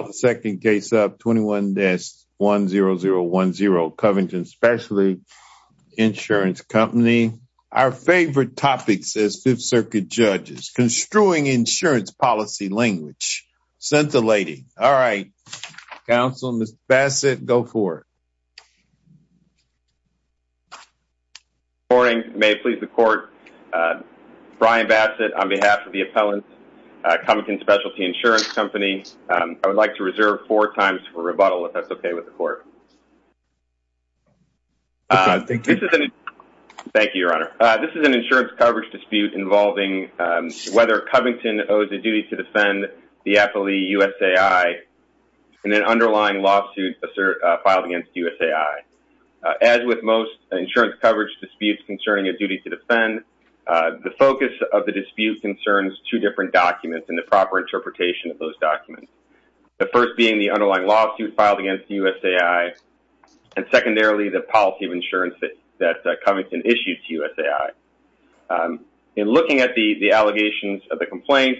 the second case up 21-10010 Covington Specialty Insurance Company. Our favorite topic says Fifth Circuit Judges, construing insurance policy language. Sent the lady. All right, counsel, Mr. Bassett, go for it. Good morning. May it please the court, Brian Bassett on behalf of the appellant, Covington Specialty Insurance Company. I would like to reserve four times for rebuttal if that's okay with the court. Thank you, your honor. This is an insurance coverage dispute involving whether Covington owes a duty to defend the affilee USAI in an underlying lawsuit filed against USAI. As with most insurance coverage disputes concerning a duty to defend, the focus of the dispute concerns two different documents and the proper interpretation of those documents. The first being the underlying lawsuit filed against USAI and secondarily, the policy of insurance that Covington issued to USAI. In looking at the allegations of the complaint,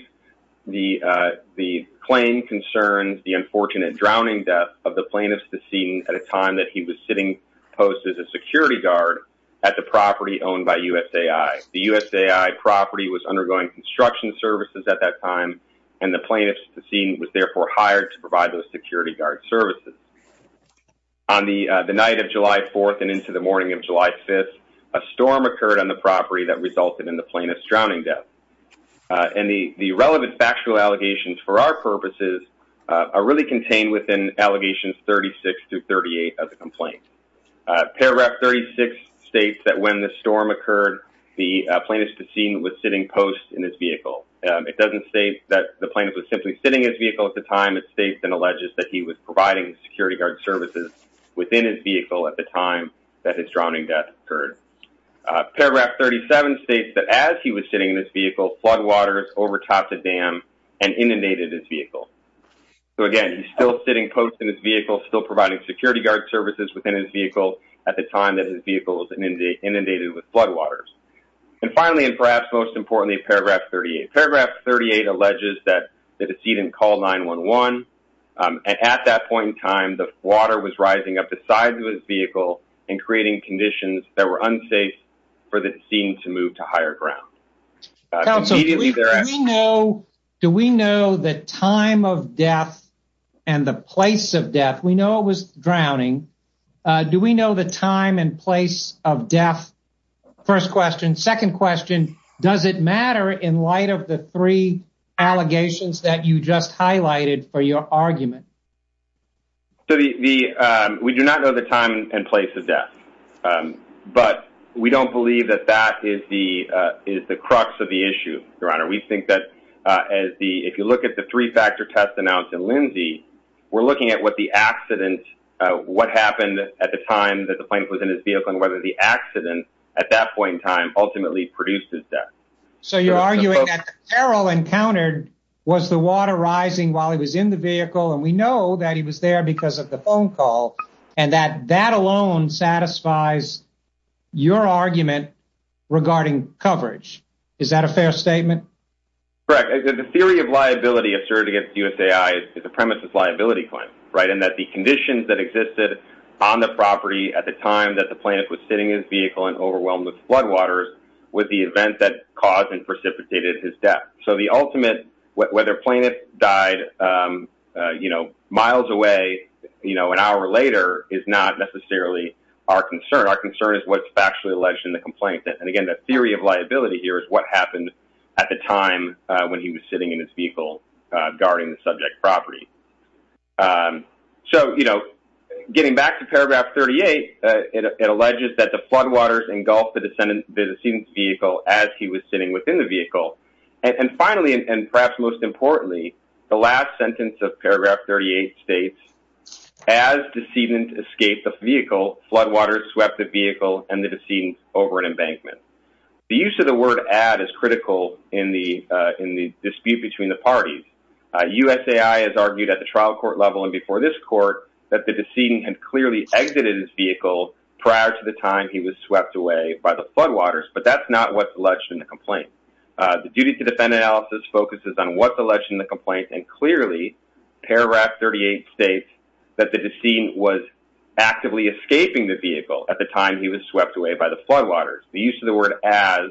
the claim concerns the unfortunate drowning death of the plaintiff's decedent at a time that he was posted as a security guard at the property owned by USAI. The USAI property was undergoing construction services at that time and the plaintiff's decedent was therefore hired to provide those security guard services. On the night of July 4th and into the morning of July 5th, a storm occurred on the property that resulted in the plaintiff's drowning death. And the relevant factual allegations for our purposes are really contained within allegations 36 through 38 of the complaint. Paragraph 36 states that when the storm occurred, the plaintiff's decedent was sitting post in his vehicle. It doesn't state that the plaintiff was simply sitting in his vehicle at the time. It states and alleges that he was providing security guard services within his vehicle at the time that his drowning death occurred. Paragraph 37 states that as he was sitting in his vehicle, floodwaters overtopped the dam and inundated his vehicle. So again, he's still sitting post in his vehicle, still providing security guard services within his vehicle at the time that his vehicle was inundated with floodwaters. And finally, and perhaps most importantly, paragraph 38. Paragraph 38 alleges that the decedent called 911 and at that point in time, the water was rising up the sides of his vehicle and creating conditions that were unsafe for the scene to move to higher ground. Do we know the time of death and the place of death? We know it was drowning. Do we know the time and place of death? First question. Second question, does it matter in light of the three allegations that you just highlighted for your argument? So the, we do not know the time and place of death, but we don't believe that that is the crux of the issue, your honor. We think that as the, if you look at the three factor test announced in Lindsay, we're looking at what the accident, what happened at the time that the plane was in his vehicle and whether the accident at that point in time ultimately produced his death. So you're arguing that the peril encountered was the water rising while he was in the vehicle and we know that he was there because of the phone call and that that alone satisfies your argument regarding coverage. Is that a fair statement? Correct. The theory of liability asserted against USAI is the premise is liability claim, right? And that the conditions that existed on the property at the time that the plaintiff was sitting in his vehicle and overwhelmed with floodwaters with the event that caused and precipitated his death. So the ultimate, whether plaintiff died, you know, miles away, you know, an hour later is not necessarily our concern. Our concern is what's factually alleged in the complaint. And again, the theory of liability here is what happened at the time when he was sitting in his vehicle, guarding the subject property. So, you know, getting back to paragraph 38, it alleges that the floodwaters engulfed the descendant's vehicle as he was sitting within the vehicle. And finally, and perhaps most importantly, the last sentence of paragraph 38 states, as descendant escaped the vehicle, floodwaters swept the vehicle and the descendant over an embankment. The use of the word add is critical in the dispute between the parties. USAI has argued at the trial court level and before this court that the descendant had clearly exited his vehicle prior to the time he was swept away by the floodwaters, but that's not what's alleged in the complaint. The duty to defend analysis focuses on what's alleged in the complaint, and clearly paragraph 38 states that the descendant was actively escaping the vehicle at the time he was swept away by the floodwaters. The use of the word as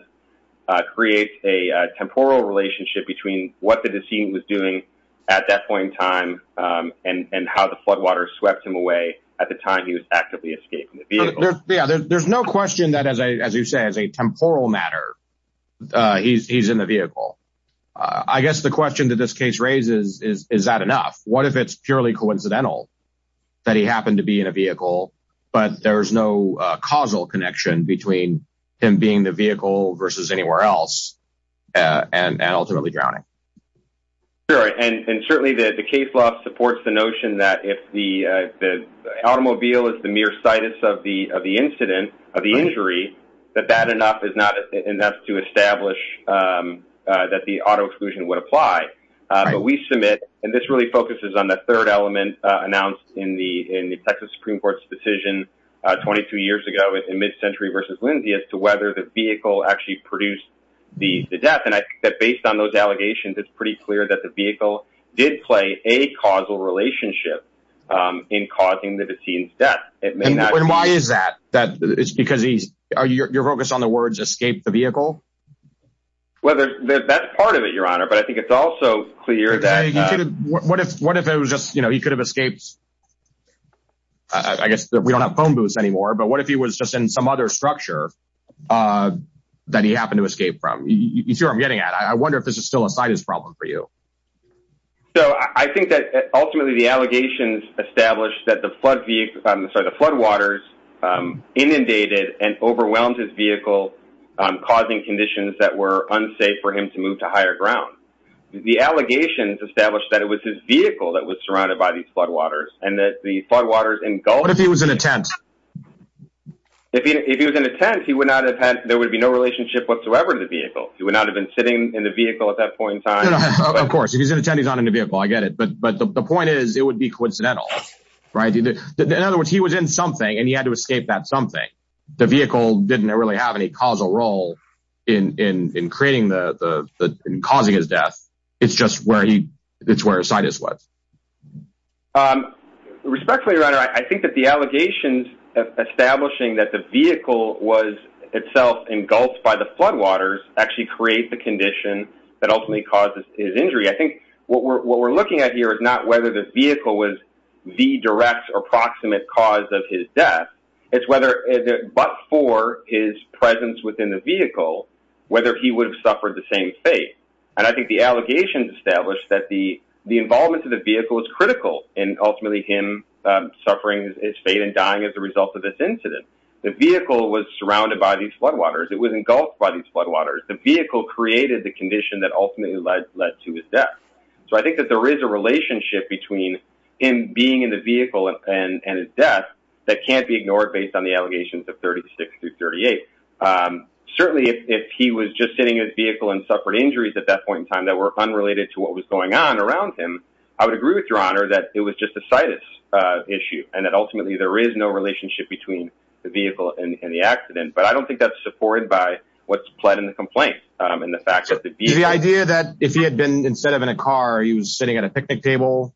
creates a temporal relationship between what the descendant was doing at that point in time and how the floodwaters swept him away at the time he was actively escaping the vehicle. Yeah, there's no question that as I, as you say, as a temporal matter, uh, he's, he's in the vehicle. Uh, I guess the question that this case raises is, is that enough? What if it's purely coincidental that he happened to be in a vehicle, but there's no, uh, causal connection between him being the vehicle versus anywhere else and ultimately drowning? Sure. And certainly the case law supports the notion that if the, uh, automobile is the mere situs of the, of the incident of the injury, that that enough is not enough to establish, um, uh, that the auto exclusion would apply. Uh, but we submit, and this really focuses on the third element, uh, announced in the, in the Texas Supreme Court's decision, uh, 22 years ago in mid century versus Lindsay as to whether the vehicle actually produced the death. And I think that based on those allegations, it's pretty clear that the vehicle did play a causal relationship, um, in causing the deceased death. It may not. And why is that? That it's because he's, are you, you're focused on the words, escape the vehicle? Whether that's part of it, your honor, but I think it's also clear that what if, what if it was just, you know, he could have escaped. I guess we don't have phone booths anymore, but what if he was just in some other structure, uh, that he happened to escape from? You see what I'm getting at. I wonder if this is still his problem for you. So I think that ultimately the allegations established that the flood vehicle, I'm sorry, the floodwaters, um, inundated and overwhelmed his vehicle, um, causing conditions that were unsafe for him to move to higher ground. The allegations established that it was his vehicle that was surrounded by these floodwaters and that the floodwaters engulfed him. What if he was in a tent? If he, if he was in a tent, he would not have had, there would be no relationship to the vehicle. He would not have been sitting in the vehicle at that point in time. Of course, if he's in a tent, he's not in a vehicle. I get it. But, but the point is it would be coincidental, right? In other words, he was in something and he had to escape that something. The vehicle didn't really have any causal role in, in, in creating the, the, the, in causing his death. It's just where he, it's where his sight is. Um, respectfully, your honor, I think that the allegations of establishing that the vehicle was itself engulfed by the floodwaters actually create the condition that ultimately causes his injury. I think what we're, what we're looking at here is not whether the vehicle was the direct or proximate cause of his death. It's whether, but for his presence within the vehicle, whether he would have suffered the same fate. And I think the allegations established that the, the involvement of the vehicle was critical and ultimately him, um, suffering his fate and dying as a result of this incident. The vehicle was surrounded by these floodwaters. It was engulfed by these floodwaters. The vehicle created the condition that ultimately led, led to his death. So I think that there is a relationship between him being in the vehicle and his death that can't be ignored based on the allegations of 36 through 38. Um, certainly if he was just sitting in his vehicle and suffered injuries at that point in time that were unrelated to what was going on around him, I would agree with your honor that it was just a sighted, uh, issue and that ultimately there is no relationship between the vehicle and the accident. But I don't think that's supported by what's pled in the complaint. Um, and the fact that the idea that if he had been, instead of in a car, he was sitting at a picnic table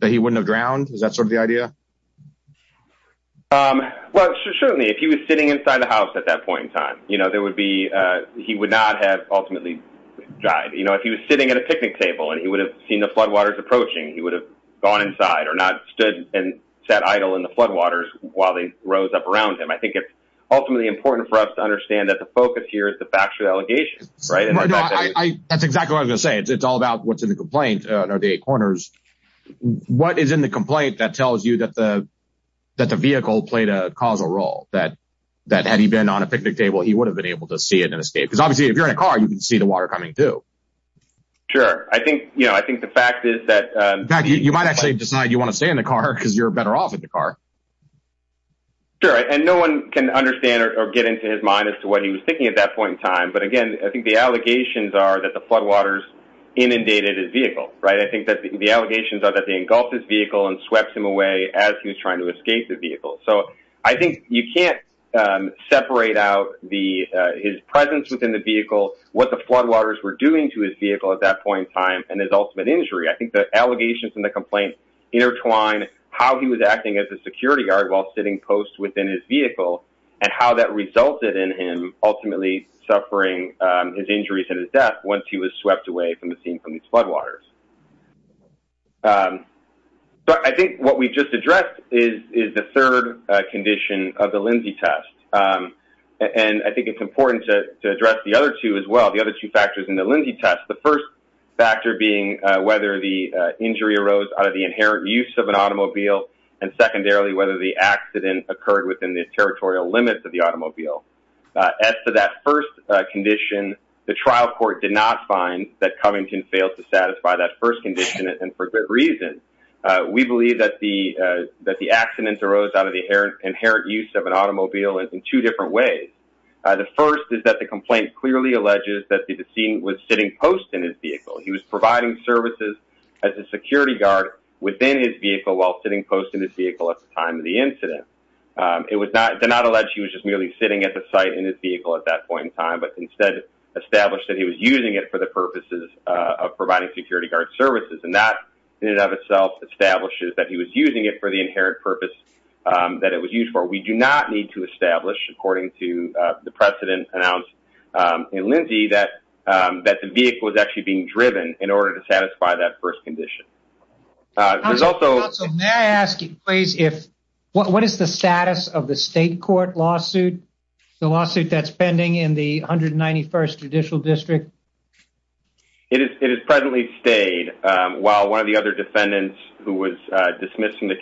that he wouldn't have drowned. Is that sort of the idea? Um, well, certainly if he was sitting inside the house at that point in time, you know, there would be, uh, he would not have ultimately died. You know, if he was sitting at a picnic table and he would have seen the floodwaters approaching, he would have gone inside or not and sat idle in the floodwaters while they rose up around him. I think it's ultimately important for us to understand that the focus here is the factual allegations, right? That's exactly what I was going to say. It's all about what's in the complaint, uh, the eight corners. What is in the complaint that tells you that the, that the vehicle played a causal role that, that had he been on a picnic table, he would have been able to see it and escape. Because obviously if you're in a car, you can see the water coming through. Sure. I think, you know, I think the fact is that, um, you might actually decide you want to stay in the car because you're better off in the car. Sure. And no one can understand or get into his mind as to what he was thinking at that point in time. But again, I think the allegations are that the floodwaters inundated his vehicle, right? I think that the allegations are that they engulfed his vehicle and swept him away as he was trying to escape the vehicle. So I think you can't, um, separate out the, uh, his presence within the vehicle, what the floodwaters were doing to his vehicle at that time and his ultimate injury. I think the allegations from the complaint intertwine how he was acting as a security guard while sitting post within his vehicle and how that resulted in him ultimately suffering, um, his injuries and his death once he was swept away from the scene from these floodwaters. Um, but I think what we just addressed is, is the third condition of the Lindsay test. Um, and I think it's important to address the other two as well. The other two factors in the Lindsay test, the first factor being whether the injury arose out of the inherent use of an automobile. And secondarily, whether the accident occurred within the territorial limits of the automobile. Uh, as to that first condition, the trial court did not find that Covington failed to satisfy that first condition. And for good reason, we believe that the, uh, that the accidents arose out of the inherent use of an automobile in two different ways. Uh, the first is that the complaint clearly alleges that the scene was sitting post in his vehicle. He was providing services as a security guard within his vehicle while sitting post in his vehicle at the time of the incident. Um, it was not, did not allege he was just merely sitting at the site in his vehicle at that point in time, but instead established that he was using it for the purposes of providing security guard services. And that in and of itself establishes that he was using it for the inherent purpose, um, that it was used for. We do not need to establish according to, uh, the precedent announced, um, in Lindsay that, um, that the vehicle was actually being driven in order to satisfy that first condition. Uh, there's also... May I ask you, please, if, what is the status of the state court lawsuit, the lawsuit that's pending in the 191st judicial district? It is, it is presently stayed, um, while one of the other defendants who was, uh, dismissing the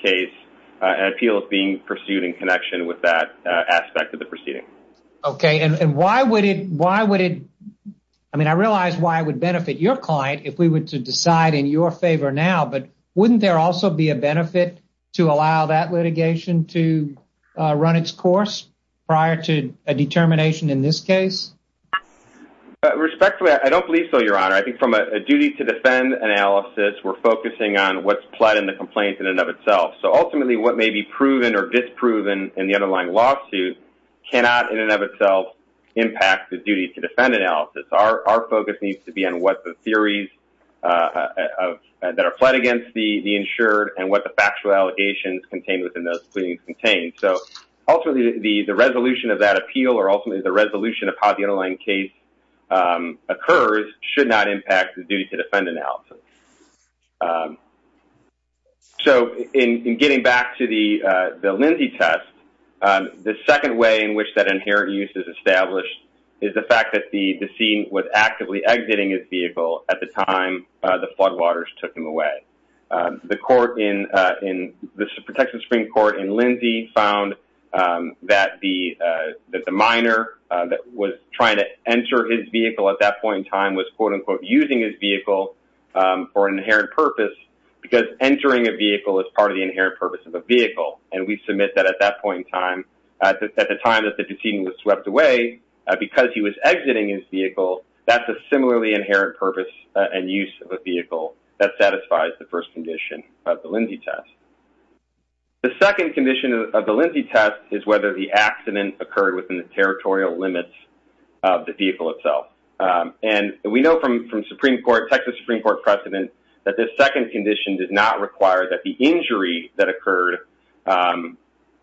appeal is being pursued in connection with that, uh, aspect of the proceeding. Okay. And why would it, why would it, I mean, I realized why it would benefit your client if we were to decide in your favor now, but wouldn't there also be a benefit to allow that litigation to, uh, run its course prior to a determination in this case? Respectfully, I don't believe so, Your Honor. I think from a duty to defend analysis, we're focusing on what's pled in the complaint in and of itself. So ultimately what may be proven or disproven in the underlying lawsuit cannot in and of itself impact the duty to defend analysis. Our, our focus needs to be on what the theories, uh, uh, uh, that are pled against the, the insured and what the factual allegations contained within those proceedings contain. So ultimately the, the resolution of that appeal or ultimately the resolution of how the underlying case, um, occurs should not impact the duty to defend analysis. Um, so in, in getting back to the, uh, the Lindsay test, um, the second way in which that inherent use is established is the fact that the, the scene was actively exiting his vehicle at the time, uh, the floodwaters took him away. Um, the court in, uh, in the protection Supreme found, um, that the, uh, that the minor, uh, that was trying to enter his vehicle at that point in time was quote unquote using his vehicle, um, for an inherent purpose because entering a vehicle is part of the inherent purpose of a vehicle. And we submit that at that point in time, at the, at the time that the proceeding was swept away, uh, because he was exiting his vehicle, that's a similarly inherent purpose and use of a vehicle that satisfies the first condition of the Lindsay test. The second condition of the Lindsay test is whether the accident occurred within the territorial limits of the vehicle itself. Um, and we know from, from Supreme court, Texas Supreme court precedent that this second condition did not require that the injury that occurred, um,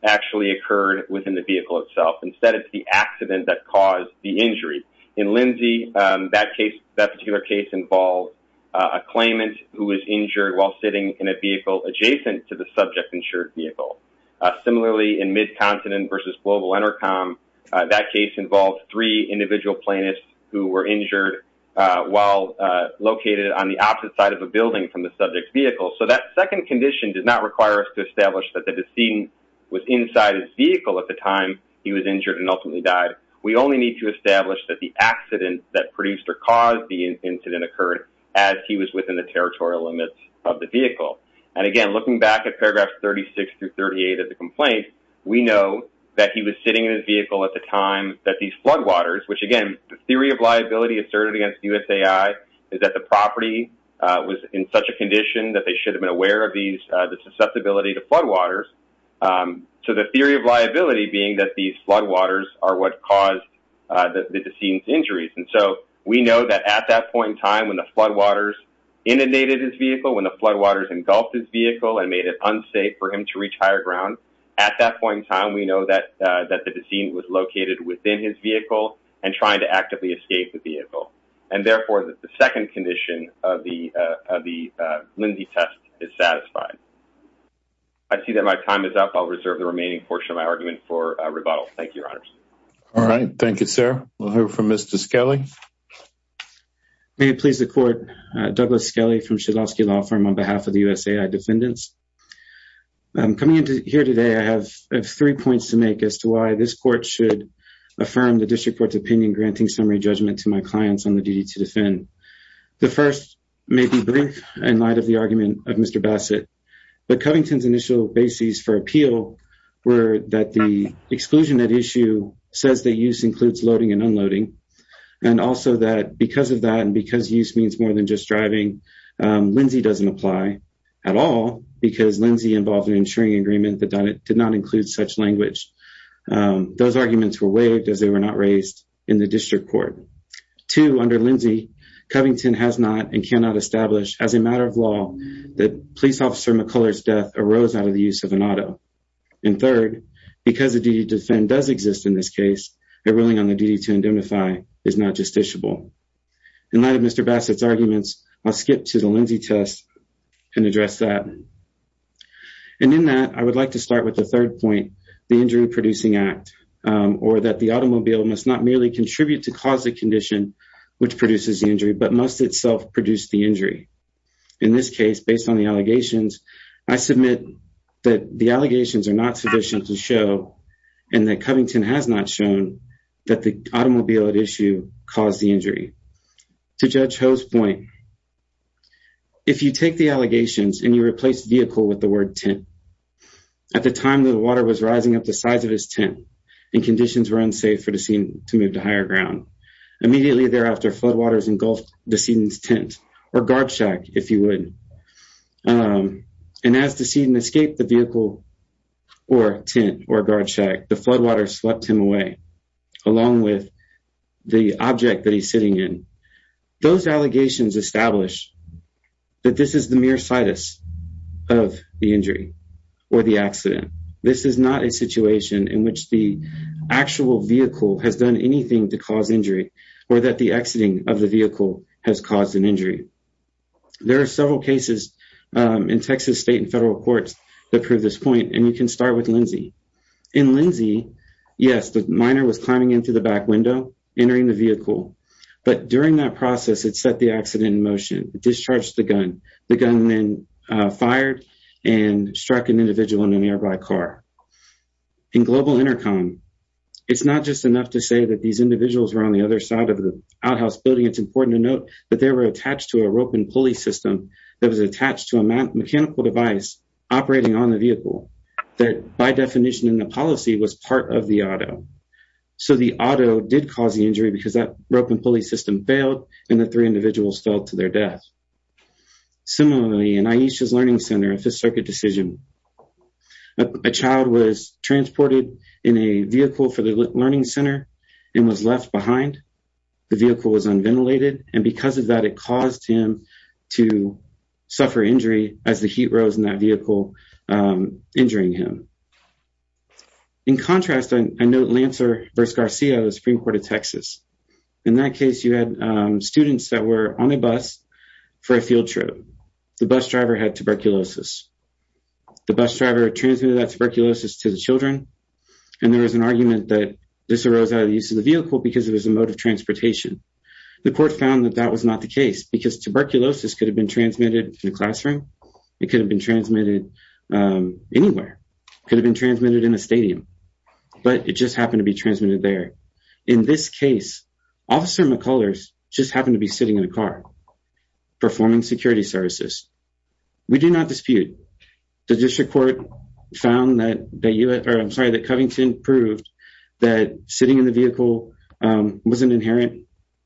actually occurred within the vehicle itself. Instead, it's the accident that caused the injury in Lindsay. Um, that case, that particular case involved, uh, a claimant who was injured while sitting in a vehicle adjacent to the subject insured vehicle. Uh, similarly in mid continent versus global intercom, uh, that case involved three individual plaintiffs who were injured, uh, while, uh, located on the opposite side of a building from the subject vehicle. So that second condition does not require us to establish that the decedent was inside his vehicle at the time he was injured and ultimately died. We only need to establish that the accident that produced or caused the incident occurred as he was within the territorial limits of the vehicle. And again, looking back at paragraphs 36 through 38 of the complaint, we know that he was sitting in his vehicle at the time that these floodwaters, which again, the theory of liability asserted against USAI is that the property was in such a condition that they should have been aware of these, uh, the susceptibility to floodwaters. Um, so the theory of liability being that these floodwaters are what caused, uh, the, the decedent's injuries. And so we know that at that point in time, when the floodwaters inundated his vehicle, when the floodwaters engulfed his vehicle and made it unsafe for him to reach higher ground at that point in time, we know that, uh, that the decedent was located within his vehicle and trying to actively escape the vehicle. And therefore the second condition of the, uh, of the, uh, Lindsay test is satisfied. I see that my time is up. I'll reserve the remaining portion of my argument for a rebuttal. Thank you, your honors. All right. Thank you, sir. We'll hear from Mr. Skelly. May it please the court, uh, Douglas Skelly from Shedlosky Law Firm on behalf of the USAI defendants. Um, coming into here today, I have three points to make as to why this court should affirm the district court's opinion, granting summary judgment to my clients on the duty to defend. The first may be brief in light of the argument of Mr. Bassett, but Covington's initial basis for appeal were that the exclusion at issue says that use includes loading and unloading. And also that because of that, and because use means more than just driving, um, Lindsay doesn't apply at all because Lindsay involved an insuring agreement that did not include such language. Um, those arguments were waived as they were not raised in the district court. Two, under Lindsay, Covington has not and cannot establish as a matter of law that police officer McCullers death arose out of the use of an auto. And third, because the duty to defend does exist in this case, a ruling on the duty to indemnify is not justiciable. In light of Mr. Bassett's arguments, I'll skip to the Lindsay test and address that. And in that, I would like to start with the third point, the injury producing act, or that the automobile must not merely contribute to cause the condition which produces the injury, but must itself produce the injury. In this case, based on the allegations, I submit that the allegations are not sufficient to show, and that Covington has not shown, that the automobile at issue caused the injury. To Judge Ho's point, if you take the allegations and you replace vehicle with the word tent, at the time the water was rising up the size of his tent and conditions were unsafe for Decedent to move to higher ground. Immediately thereafter, floodwaters engulfed Decedent's tent, or guard shack, if you would. And as Decedent escaped the vehicle, or tent, or guard shack, the floodwaters swept him away, along with the object that he's sitting in. Those allegations establish that this is the mere situs of the injury, or the accident. This is not a situation in which the actual vehicle has done anything to cause injury, or that the exiting of the vehicle has caused an injury. There are several cases in Texas state and federal courts that prove this point, and you can start with Lindsey. In Lindsey, yes, the minor was climbing into the back window, entering the vehicle, but during that process, it set the car. In Global Intercom, it's not just enough to say that these individuals were on the other side of the outhouse building. It's important to note that they were attached to a rope and pulley system that was attached to a mechanical device operating on the vehicle, that by definition in the policy was part of the auto. So the auto did cause the injury because that rope and pulley system failed, and the three individuals fell to their death. Similarly, in Aisha's Learning Center, Fifth Circuit decision, a child was transported in a vehicle for the Learning Center and was left behind. The vehicle was unventilated, and because of that, it caused him to suffer injury as the heat rose in that vehicle, injuring him. In contrast, I note Lancer v. Garcia of the Supreme Court of Texas. In that case, you had students that were on a bus for a field trip. The bus driver had tuberculosis. The bus driver transmitted that tuberculosis to the children, and there was an argument that this arose out of the use of the vehicle because it was a mode of transportation. The court found that that was not the case because tuberculosis could have been transmitted in a classroom. It could have been transmitted anywhere. It could have been transmitted in a stadium, but it just happened to be transmitted there. In this case, Officer McCullers just did not dispute. The district court found that Covington proved that sitting in the vehicle was an inherent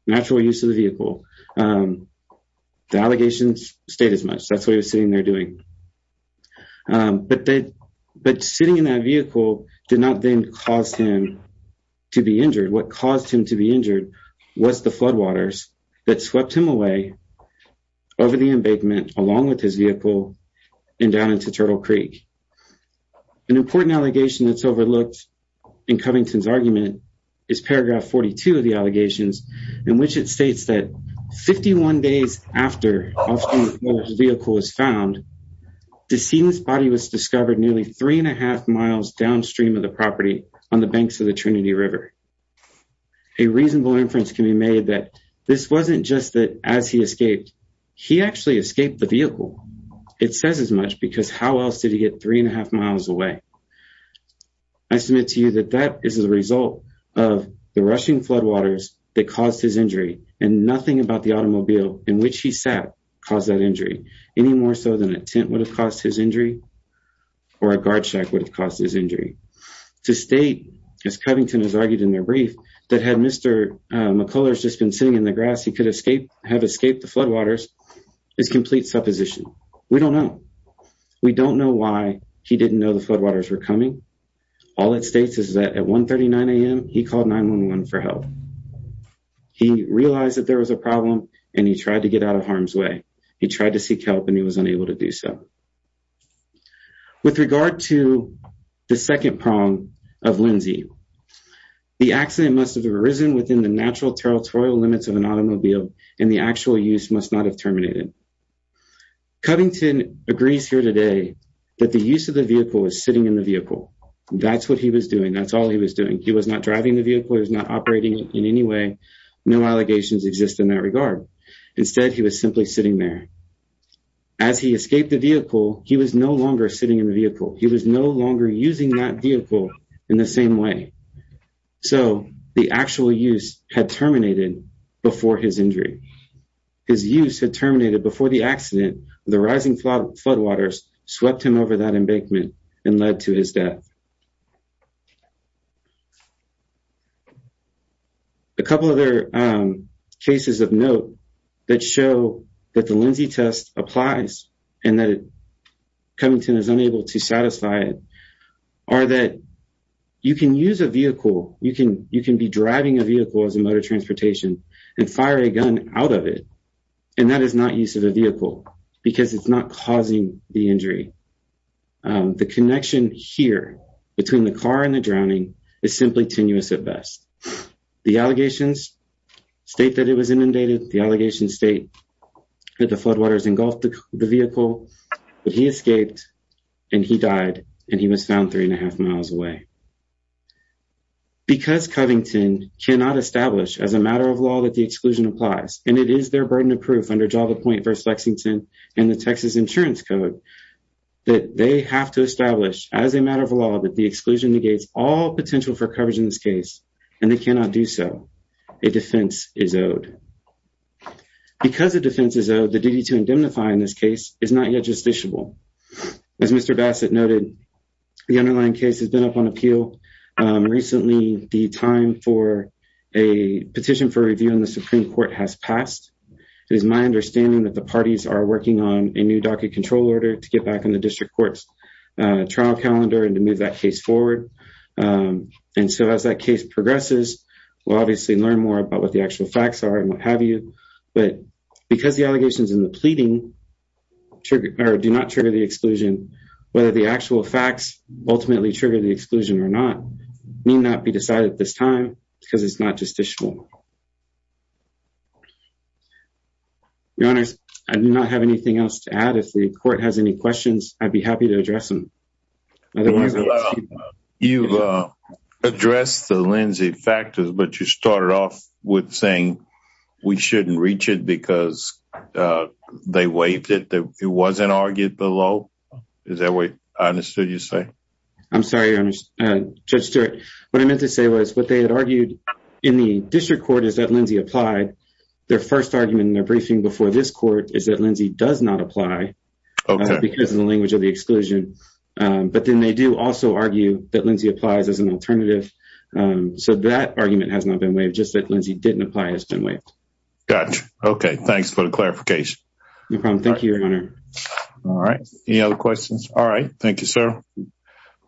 natural use of the vehicle. The allegations stayed as much. That's what he was sitting there doing. But sitting in that vehicle did not then cause him to be injured. What caused him to be injured was the floodwaters that swept him away over the embankment along with his vehicle and down into Turtle Creek. An important allegation that's overlooked in Covington's argument is paragraph 42 of the allegations in which it states that 51 days after Officer McCullers' vehicle was found, the decedent's body was discovered nearly three and a half miles downstream of the property on the banks of the Trinity River. A reasonable inference can be made that this wasn't just that as he escaped, he actually escaped the vehicle. It says as much because how else did he get three and a half miles away? I submit to you that that is the result of the rushing floodwaters that caused his injury and nothing about the automobile in which he sat caused that injury, any more so than a tent would have caused his injury or a guard shack would have caused his injury. To state, as Covington has argued in their brief, that had Mr. McCullers just been sitting in the grass he could have escaped the floodwaters is complete supposition. We don't know. We don't know why he didn't know the floodwaters were coming. All it states is that at 1 39 a.m he called 911 for help. He realized that there was a problem and he tried to get out of harm's way. He tried to seek help and he was unable to do so. With regard to the second prong of Lindsay, the accident must have arisen within the natural territorial limits of an automobile and the actual use must not have terminated. Covington agrees here today that the use of the vehicle was sitting in the vehicle. That's what he was doing. That's all he was doing. He was not driving the vehicle. He was not operating in any way. No allegations exist in that regard. Instead he was simply sitting there. As he escaped the vehicle he was no longer sitting in the vehicle. He was no longer using that vehicle in the same way. So the actual use had terminated before his injury. His use had terminated before the accident of the rising floodwaters swept him over that embankment and he died. A couple other cases of note that show that the Lindsay test applies and that Covington is unable to satisfy it are that you can use a vehicle, you can be driving a vehicle as a motor transportation and fire a gun out of it and that is not use of a vehicle because it's not is simply tenuous at best. The allegations state that it was inundated. The allegations state that the floodwaters engulfed the vehicle but he escaped and he died and he was found three and a half miles away. Because Covington cannot establish as a matter of law that the exclusion applies and it is their burden of proof under Java Point versus Lexington and the Texas Insurance Code that they have to establish as a matter of law that the exclusion negates all potential for coverage in this case and they cannot do so. A defense is owed. Because a defense is owed, the duty to indemnify in this case is not yet justiciable. As Mr. Bassett noted, the underlying case has been up on appeal recently. The time for a petition for review in the Supreme Court has passed. It is my understanding that the parties are working on a new docket control order to get back in the district court's trial calendar and to move that case forward and so as that case progresses, we'll obviously learn more about what the actual facts are and what have you but because the allegations in the pleading do not trigger the exclusion, whether the actual facts ultimately trigger the exclusion or not may not be decided at this time because it's not justiciable. Your Honor, I do not have anything else to add. If the court has any questions, I'd be happy to address them. You've addressed the Lindsay factors but you started off with saying we shouldn't reach it because they waived it. It wasn't argued below. Is that what I understood you to say? I'm sorry, Your Honor. Judge Stewart, what I meant to say was what they had argued in the district court is that Lindsay applied. Their first argument in their briefing before this court is that Lindsay does not apply because of the language of the exclusion but then they do also argue that Lindsay applies as an alternative so that argument has not been waived. Just that Lindsay didn't apply has been waived. Got you. Okay. Thanks for the clarification. No problem. Thank you, Your Honor. All right. Any other questions? All right. Thank you, sir.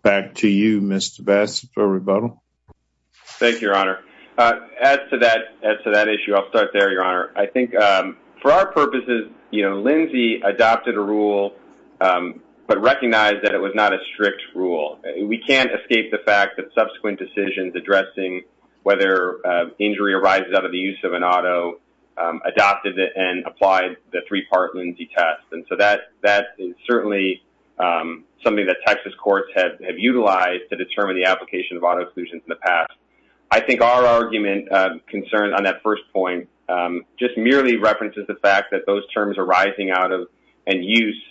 Back to you, Mr. Bass for rebuttal. Thank you, Your Honor. As to that issue, I'll start there, Your Honor. I think for our purposes, Lindsay adopted a rule but recognized that it was not a strict rule. We can't escape the fact that subsequent decisions addressing whether injury arises out of the use of an auto adopted it and applied the three-part Lindsay test. That is certainly something that Texas courts have utilized to determine the application of auto exclusions in the past. I think our argument concerned on that first point just merely references the fact that those terms arising out of and use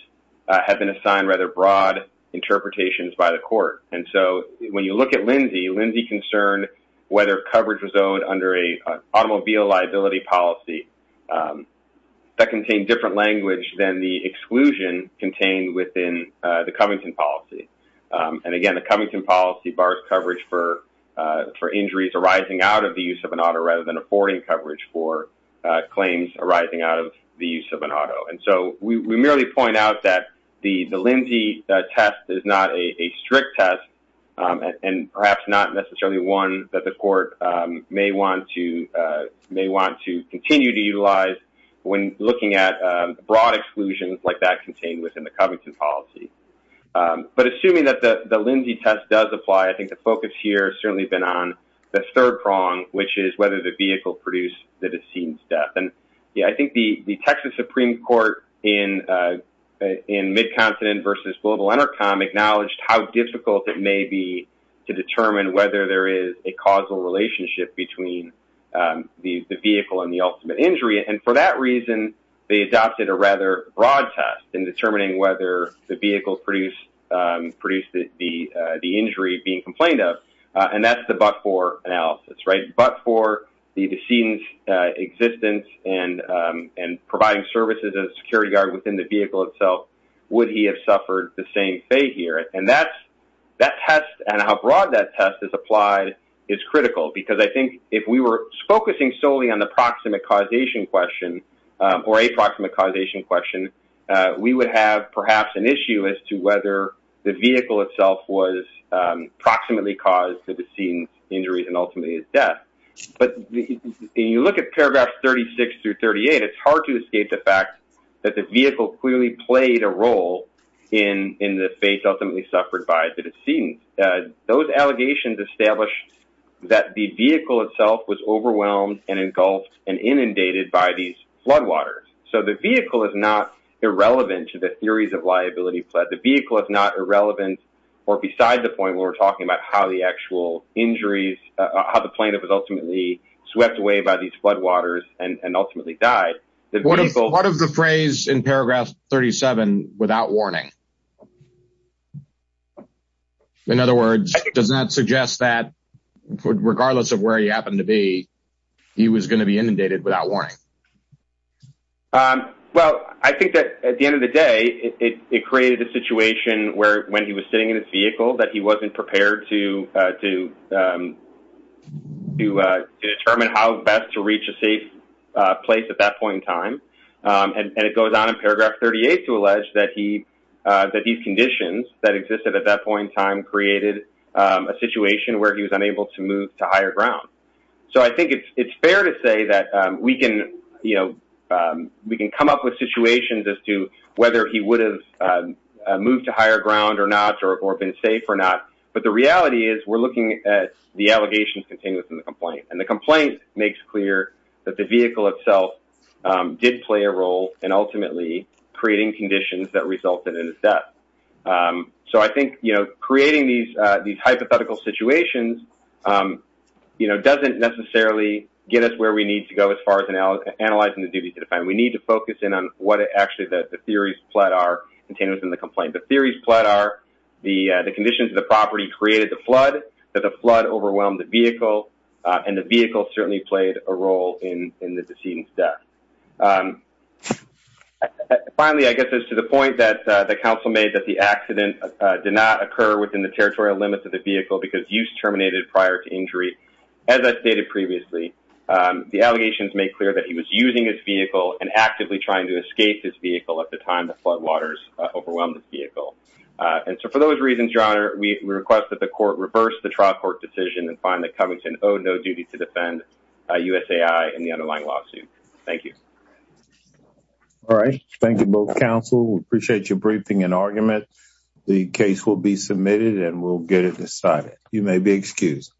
have been assigned rather broad interpretations by the court. And so when you look at Lindsay, Lindsay concerned whether coverage was owed under an automobile liability policy that contained different language than the exclusion contained within the Covington policy. And again, the Covington policy bars coverage for injuries arising out of the use of an auto rather than affording coverage for claims arising out of the use of an auto. And so we merely point out that the Lindsay test is not a strict test and perhaps not necessarily one that the court may want to continue to utilize when looking at broad exclusions like that contained within the Covington policy. But assuming that the Lindsay test does apply, I think the focus here has certainly been on the third prong, which is whether the vehicle produced the decedent's death. And yeah, I think the Texas Supreme Court in mid-continent versus global intercom acknowledged how difficult it may be to determine whether there is a causal relationship between the vehicle and the ultimate injury. And for that reason, they adopted a rather broad test in determining whether the vehicle produced the injury being complained of. And that's the but-for analysis, right? But for the decedent's existence and providing services as a security guard within the vehicle itself, would he have suffered the same fate here? And that test and how broad that test is applied is critical. Because I think if we were focusing solely on the proximate causation question or a proximate causation question, we would have perhaps an issue as to whether the vehicle itself was proximately caused the decedent's injuries and ultimately his death. But when you look at paragraphs 36 through 38, it's hard to escape the fact that the vehicle clearly played a role in the fate ultimately suffered by the decedent. Those allegations establish that the vehicle itself was overwhelmed and engulfed and inundated by these floodwaters. So the vehicle is not irrelevant to the theories of liability. The vehicle is not irrelevant or beside the point where we're talking about how the actual injuries, how the plaintiff was ultimately swept away by these floodwaters and ultimately died. What of the phrase in paragraph 37, without warning? In other words, does that suggest that regardless of where he happened to be, he was going to be inundated without warning? Well, I think that at the end of the day, it created a situation where when he was sitting in his vehicle that he wasn't prepared to determine how best to reach a safe place at that point in time. And it goes on in paragraph 38 to allege that these conditions that existed at that point in time created a situation where he was unable to move to higher ground. So I think it's fair to say that we can come up with situations as to whether he would have moved to higher ground or not, or been safe or not. But the reality is we're looking at the itself did play a role in ultimately creating conditions that resulted in his death. So I think creating these hypothetical situations doesn't necessarily get us where we need to go as far as analyzing the duties of the defendant. We need to focus in on what actually the theories pled are contained within the complaint. The theories pled are the conditions of the property created the flood, that the flood overwhelmed the vehicle, and the vehicle certainly played a role in the decedent's death. Finally, I guess it's to the point that the counsel made that the accident did not occur within the territorial limits of the vehicle because use terminated prior to injury. As I stated previously, the allegations make clear that he was using his vehicle and actively trying to escape his vehicle at the time the floodwaters overwhelmed his vehicle. And so for those reasons, Your Honor, we request that the court reverse the trial court decision and find that Covington owed duty to defend USAI in the underlying lawsuit. Thank you. All right. Thank you both counsel. We appreciate your briefing and argument. The case will be submitted and we'll get it decided. You may be excused.